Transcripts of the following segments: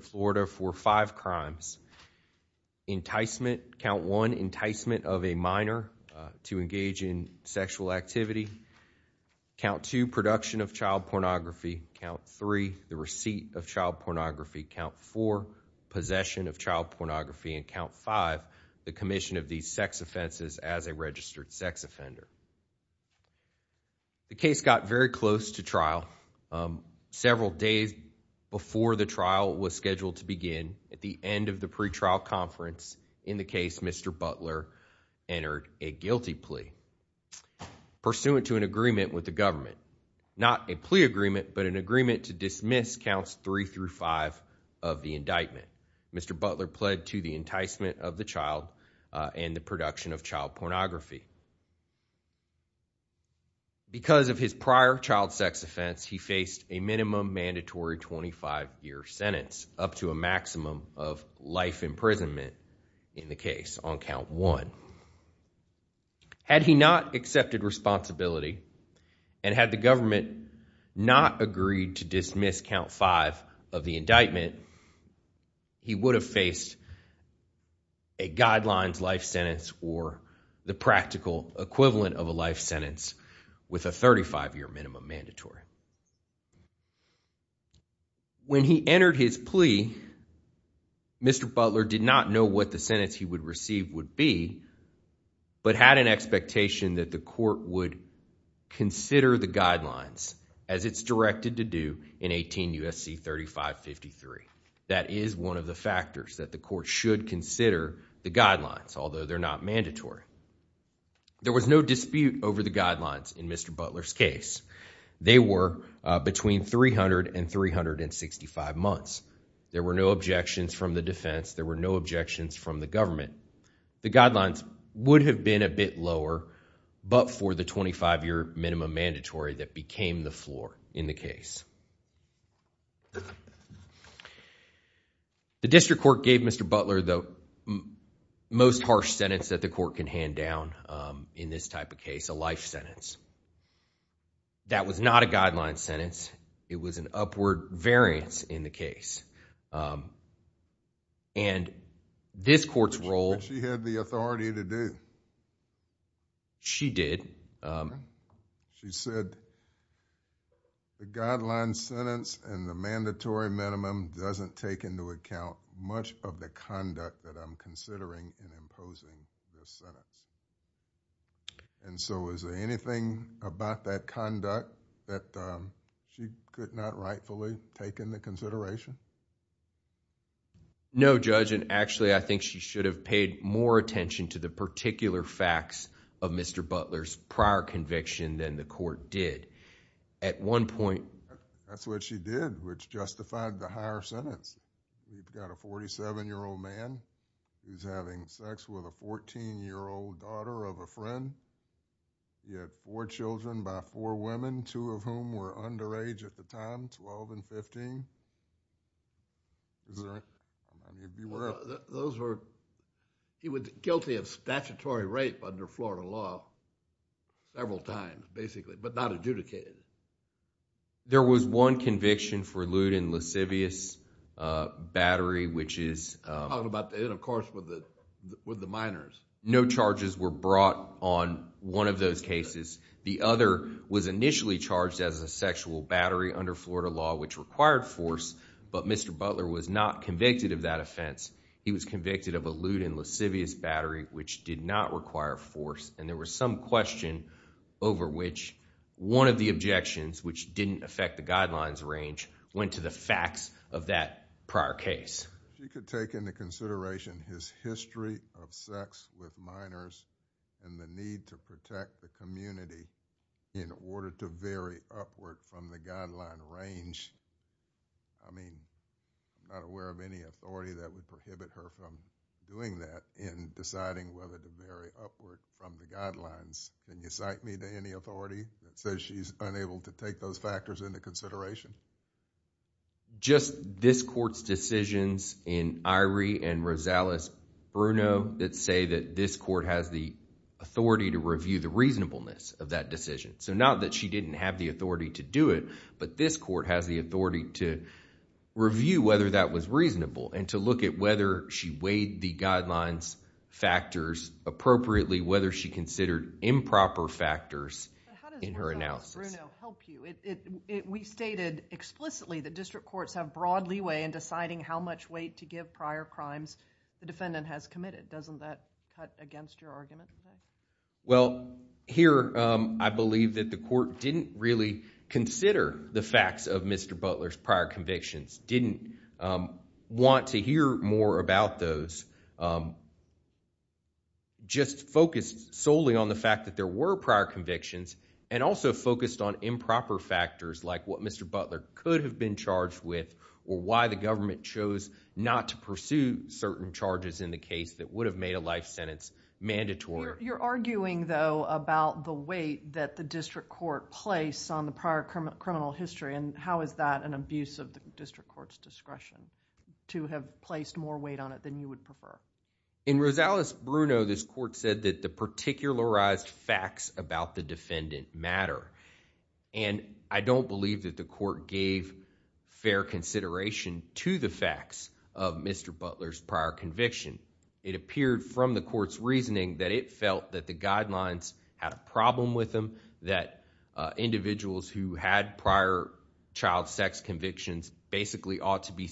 Florida for five crimes enticement count one enticement of a minor to engage in sexual activity count to production of child pornography count three the receipt of child pornography count for possession of child pornography and count five the commission of these sex offenses as a registered sex offender the case got very close to trial several days before the trial was scheduled to begin at the end of the pretrial conference in the case mr. Butler entered a guilty plea pursuant to an agreement with the government not a plea agreement but an agreement to dismiss counts three through five of the indictment mr. Butler pled to the enticement of the child and the because of his prior child sex offense he faced a minimum mandatory 25-year sentence up to a maximum of life imprisonment in the case on count one had he not accepted responsibility and had the government not agreed to dismiss count five of the indictment he would have faced a guidelines life sentence or the practical equivalent of a life sentence with a 35-year minimum mandatory when he entered his plea mr. Butler did not know what the sentence he would receive would be but had an expectation that the court would consider the guidelines as it's directed to do in 18 USC 3553 that is one of the factors that the court should consider the guidelines although they're not mandatory there was no dispute over the guidelines in mr. Butler's case they were between 300 and 365 months there were no objections from the defense there were no objections from the government the guidelines would have been a bit lower but for the 25-year minimum mandatory that became the floor in the case the district court gave mr. Butler though most harsh sentence that the court can hand down in this type of case a life sentence that was not a guideline sentence it was an upward variance in the case and this court's role she had the authority to do she did she said the guideline sentence and the mandatory minimum doesn't take into account much of the conduct that I'm and so is there anything about that conduct that she could not rightfully take into consideration no judge and actually I think she should have paid more attention to the particular facts of mr. Butler's prior conviction than the court did at one point that's what she did which justified the higher daughter of a friend you had four children by four women two of whom were underage at the time 12 and 15 those were he was guilty of statutory rape under Florida law several times basically but not adjudicated there was one conviction for lewd and lascivious battery which is about it of course with the minors no charges were brought on one of those cases the other was initially charged as a sexual battery under Florida law which required force but mr. Butler was not convicted of that offense he was convicted of a lewd and lascivious battery which did not require force and there was some question over which one of the objections which didn't affect the guidelines range went to the consideration his history of sex with minors and the need to protect the community in order to vary upward from the guideline range I mean not aware of any authority that would prohibit her from doing that in deciding whether to vary upward from the guidelines then you cite me to any authority that says she's unable to take those factors into consideration just this courts decisions in Irie and Rosales Bruno that say that this court has the authority to review the reasonableness of that decision so not that she didn't have the authority to do it but this court has the authority to review whether that was reasonable and to look at whether she weighed the guidelines factors appropriately whether she considered improper factors in her analysis we stated explicitly the district courts have broad leeway in deciding how much weight to give prior crimes the defendant has committed doesn't that cut against your argument well here I believe that the court didn't really consider the facts of mr. Butler's prior convictions didn't want to hear more about those just focused solely on the fact that there were prior convictions and also focused on improper factors like what mr. Butler could have been charged with or why the government chose not to pursue certain charges in the case that would have made a life sentence mandatory you're arguing though about the weight that the district court place on the prior criminal history and how is that an abuse of the district courts discretion to have placed more weight on it than you would prefer in Rosales Bruno this court said that the particularized facts about the defendant matter and I don't believe that the gave fair consideration to the facts of mr. Butler's prior conviction it appeared from the court's reasoning that it felt that the guidelines had a problem with them that individuals who had prior child sex convictions basically ought to be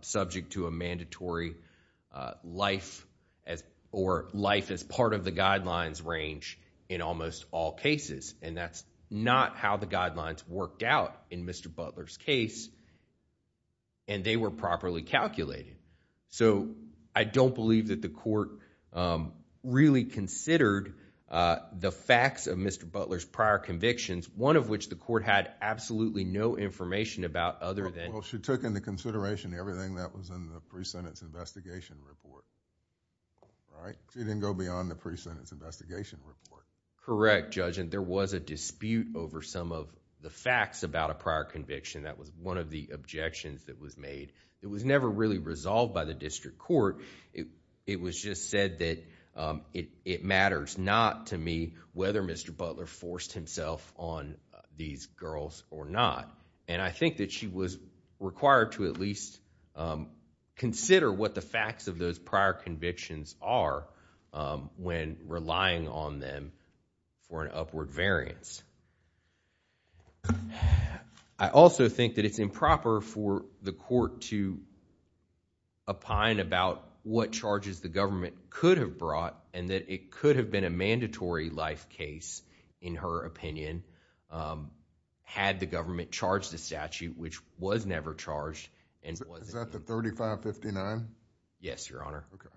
subject to a mandatory life as or life as part of the guidelines range in that's not how the guidelines worked out in mr. Butler's case and they were properly calculated so I don't believe that the court really considered the facts of mr. Butler's prior convictions one of which the court had absolutely no information about other than she took into consideration everything that was in the pre-sentence investigation report all right she didn't go beyond the dispute over some of the facts about a prior conviction that was one of the objections that was made it was never really resolved by the district court it it was just said that it matters not to me whether mr. Butler forced himself on these girls or not and I think that she was required to at least consider what the facts of those prior convictions are when relying on them for an upward variance I also think that it's improper for the court to opine about what charges the government could have brought and that it could have been a mandatory life case in her opinion had the government charged the statute which was never charged and was that the 3559 yes your honor okay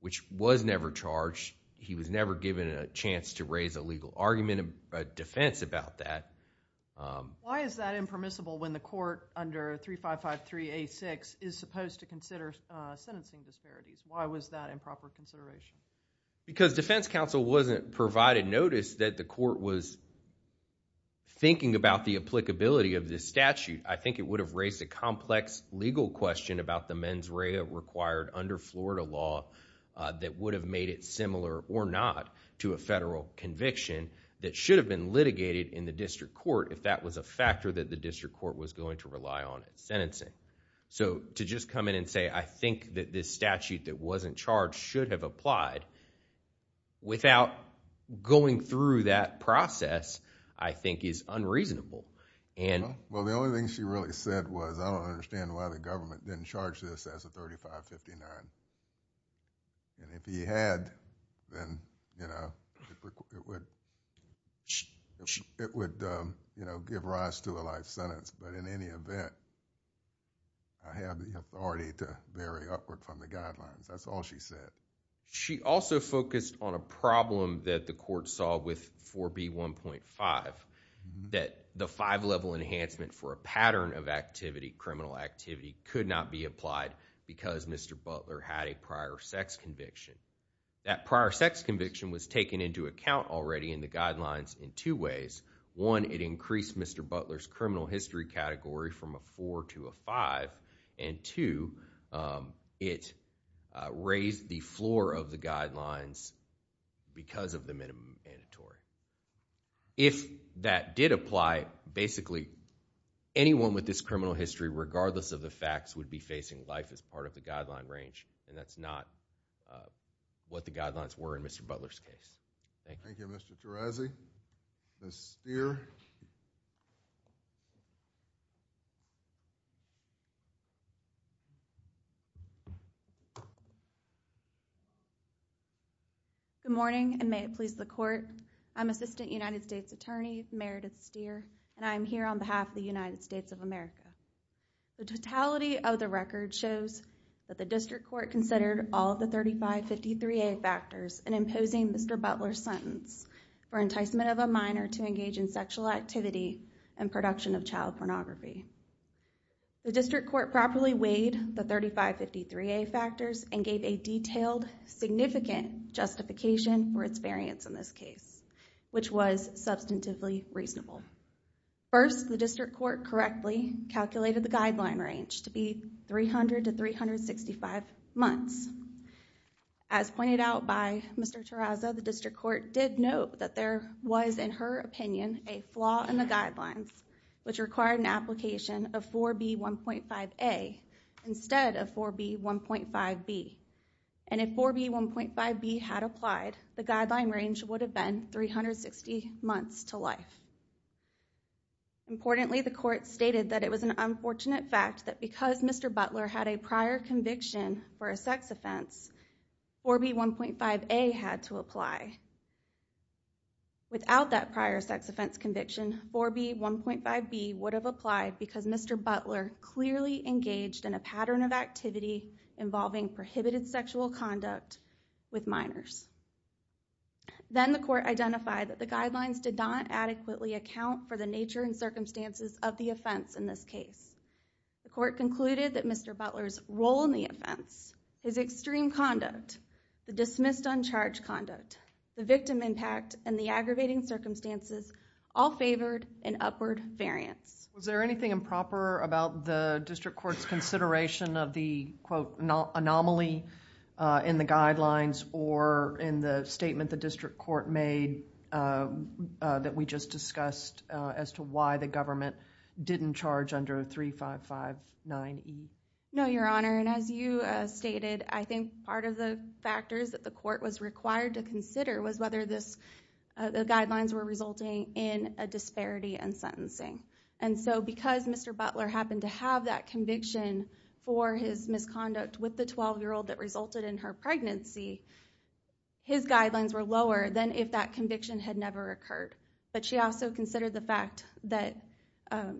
which was never charged he was never given a chance to raise a legal argument a defense about that why is that impermissible when the court under three five five three a six is supposed to consider sentencing disparities why was that improper consideration because defense counsel wasn't provided notice that the court was thinking about the applicability of this statute I think it would have raised a complex legal question about the mens rea required under Florida law that would have made it similar or not to a federal conviction that should have been litigated in the district court if that was a factor that the district court was going to rely on it sentencing so to just come in and say I think that this statute that wasn't charged should have applied without going through that process I think is unreasonable and well the only thing she really said was I had then you know it would it would you know give rise to a life sentence but in any event I have the authority to vary upward from the guidelines that's all she said she also focused on a problem that the court saw with 4b 1.5 that the five level enhancement for a pattern of activity criminal activity could not be conviction that prior sex conviction was taken into account already in the guidelines in two ways one it increased mr. Butler's criminal history category from a four to a five and two it raised the floor of the guidelines because of the minimum mandatory if that did apply basically anyone with this criminal history regardless of the facts would be facing life as part of the guideline range and that's not what the guidelines were in mr. Butler's case thank you mr. Tarazi this year good morning and may it please the court I'm assistant United States Attorney Meredith steer and I'm here on behalf of the United States of America the district court considered all the 3553 a factors and imposing mr. Butler sentence for enticement of a minor to engage in sexual activity and production of child pornography the district court properly weighed the 3553 a factors and gave a detailed significant justification for its variance in this case which was substantively reasonable first the district court correctly calculated the guideline range to be 300 to 365 months as pointed out by mr. Terraza the district court did note that there was in her opinion a flaw in the guidelines which required an application of 4b 1.5 a instead of 4b 1.5 B and if 4b 1.5 B had applied the guideline range would have been 360 months to life importantly the court stated that it was an unfortunate fact that because mr. Butler had a prior conviction for a sex offense 4b 1.5 a had to apply without that prior sex offense conviction 4b 1.5 B would have applied because mr. Butler clearly engaged in a pattern of activity involving prohibited sexual conduct with minors then the court identified that the guidelines did not adequately account for the nature and circumstances of the offense in this case the court concluded that mr. Butler's role in the offense his extreme conduct the dismissed uncharged conduct the victim impact and the aggravating circumstances all favored an upward variance was there anything improper about the district courts consideration of the quote anomaly in the guidelines or in the statement the district court made that we just discussed as to why the government didn't charge under three five five nine no your honor and as you stated I think part of the factors that the court was required to consider was whether this the guidelines were resulting in a disparity and sentencing and so because mr. Butler happened to have that conviction for his misconduct with the 12 year old that resulted in her pregnancy his guidelines were lower than if that conviction had never occurred but she also considered the fact that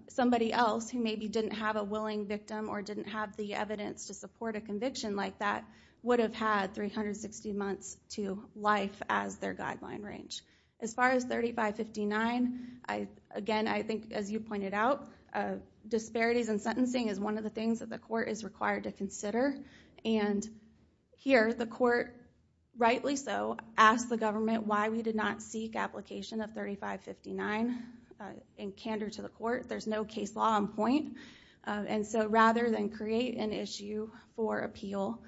somebody else who maybe didn't have a willing victim or didn't have the evidence to support a conviction like that would have had 360 months to life as their guideline range as far as 3559 I again I think as you pointed out disparities and sentencing is one of the things that the court is required to and here the court rightly so ask the government why we did not seek application of 3559 in candor to the court there's no case law on point and so rather than create an issue for appeal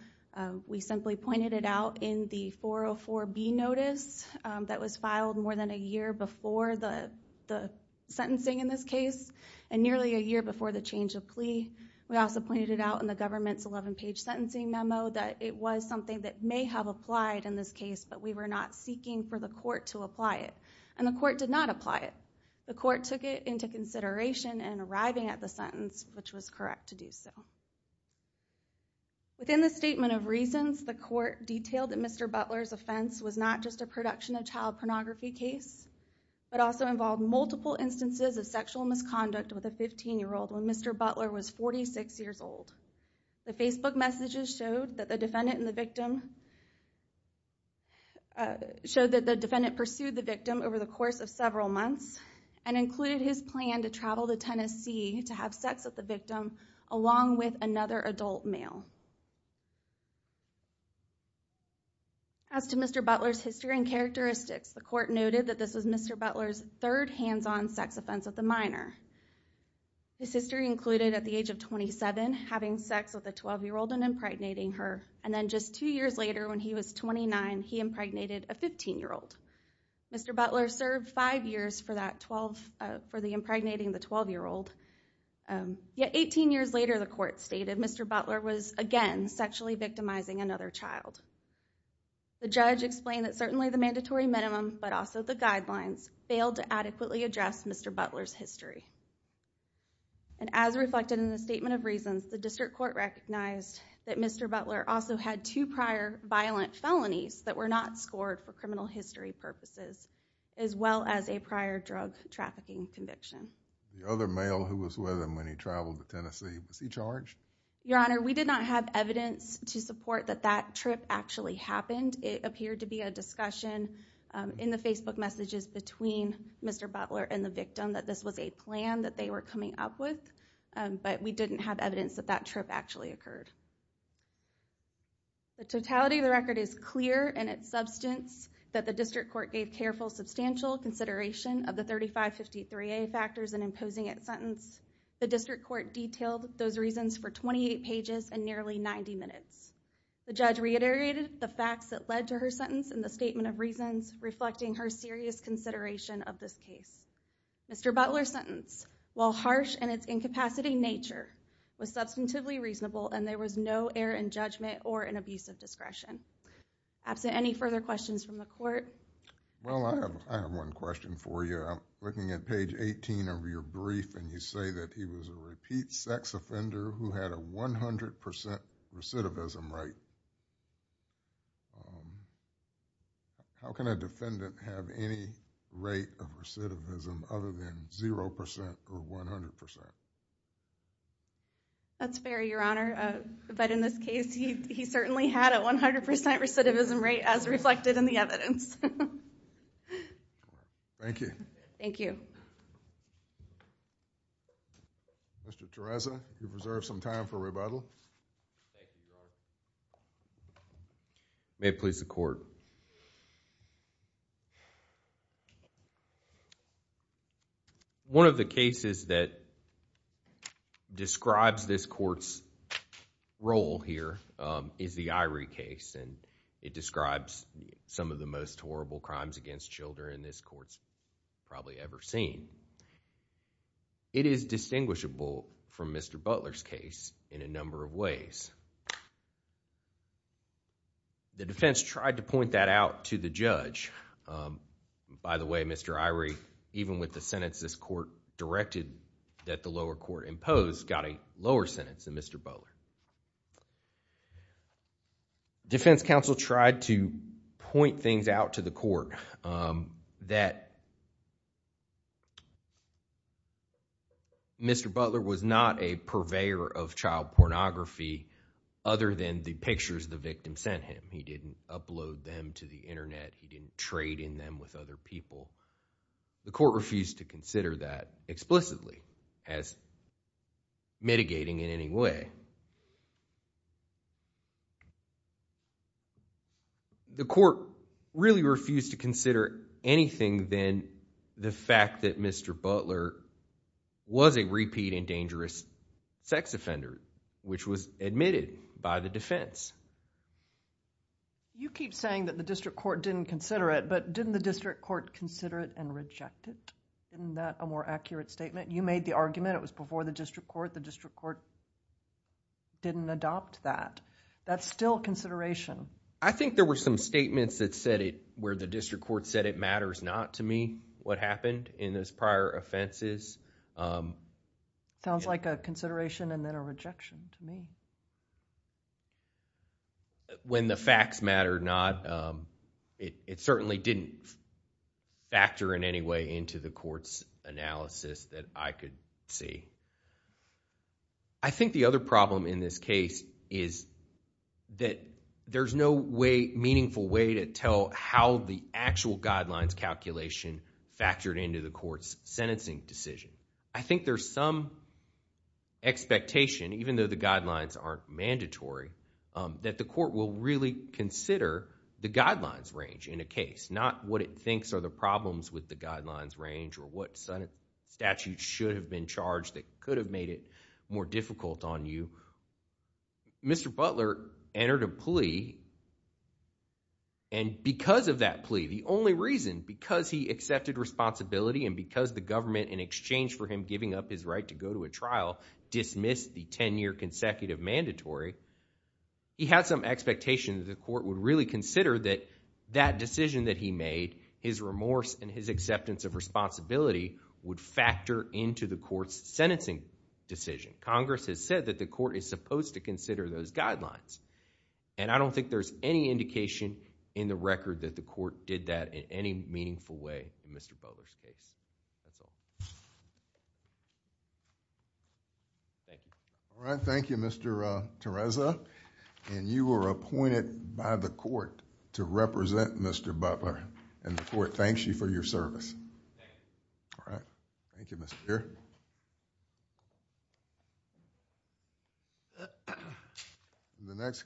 we simply pointed it out in the 404 B notice that was filed more than a year before the the sentencing in this case and nearly a year before the change of plea we also pointed it out in the government's 11 page sentencing memo that it was something that may have applied in this case but we were not seeking for the court to apply it and the court did not apply it the court took it into consideration and arriving at the sentence which was correct to do so within the statement of reasons the court detailed that mr. Butler's offense was not just a production of child pornography case but also involved multiple instances of sexual misconduct with a 15 year old when mr. Butler was 46 years old the Facebook messages showed that the defendant in the victim showed that the defendant pursued the victim over the course of several months and included his plan to travel to Tennessee to have sex with the victim along with another adult male as to mr. Butler's history and characteristics the court noted that this was mr. Butler's third hands-on sex offense of the minor his history included at the age of 27 having sex with a 12 year old and impregnating her and then just two years later when he was 29 he impregnated a 15 year old mr. Butler served five years for that 12 for the impregnating the 12 year old yet 18 years later the court stated mr. Butler was again sexually victimizing another child the judge explained that certainly the mandatory minimum but also the guidelines failed to adequately address mr. Butler's history and as reflected in the statement of reasons the district court recognized that mr. Butler also had two prior violent felonies that were not scored for criminal history purposes as well as a prior drug trafficking conviction the other male who was with him when he traveled to Tennessee was he charged your honor we did not have evidence to support that that trip actually happened it appeared to be a mr. Butler and the victim that this was a plan that they were coming up with but we didn't have evidence that that trip actually occurred the totality of the record is clear and its substance that the district court gave careful substantial consideration of the 3553 a factors and imposing its sentence the district court detailed those reasons for 28 pages and nearly 90 minutes the judge reiterated the facts that led to her sentence in the statement of reasons reflecting her serious consideration of this case mr. Butler sentence while harsh and its incapacity nature was substantively reasonable and there was no error in judgment or an abusive discretion absent any further questions from the court well I have one question for you looking at page 18 of your brief and you say that he was a repeat sex offender who had a 100% recidivism right how can a defendant have any rate of recidivism other than 0% or 100% that's fair your honor but in this case he certainly had a 100% recidivism rate as reflected in the evidence thank you thank you mr. Tereza you've reserved some time for rebuttal may please the court one of the cases that describes this courts role here is the irie case and it describes some of the most horrible crimes against children this courts probably ever seen it is distinguishable from mr. Butler's case in a number of ways the defense tried to point that out to the judge by the way mr. irie even with the sentence this court directed that the lower court imposed got a lower sentence than mr. Butler defense counsel tried to point things out to the court that mr. Butler was not a purveyor of child pornography other than the pictures the victim sent him he didn't upload them to the internet he didn't trade in them with other people the court refused to consider that explicitly as mitigating in any way the court really refused to consider anything then the fact that mr. Butler was a repeat and dangerous sex offender which was admitted by the defense you keep saying that the district court didn't consider it but didn't the district court consider it and reject it in that a more accurate statement you made the argument it was before the district court the district court didn't adopt that that's still consideration I think there were some statements that said it where the district court said it matters not to me what happened in those prior offenses sounds like a consideration and then a rejection to me when the facts matter not it certainly didn't factor in any into the court's analysis that I could see I think the other problem in this case is that there's no way meaningful way to tell how the actual guidelines calculation factored into the court's sentencing decision I think there's some expectation even though the guidelines aren't mandatory that the court will really consider the guidelines range in a case not what it thinks are the problems with the guidelines range or what Senate statute should have been charged that could have made it more difficult on you mr. Butler entered a plea and because of that plea the only reason because he accepted responsibility and because the government in exchange for him giving up his right to go to a trial dismissed the 10-year consecutive mandatory he had some expectations the court would really consider that that decision that he made his remorse and his acceptance of responsibility would factor into the court's sentencing decision Congress has said that the court is supposed to consider those guidelines and I don't think there's any indication in the record that the court did that in any meaningful way mr. Butler's case thank you all right thank you mr. Tereza and you were appointed by the court to the court thanks you for your service all right thank you mr. here the next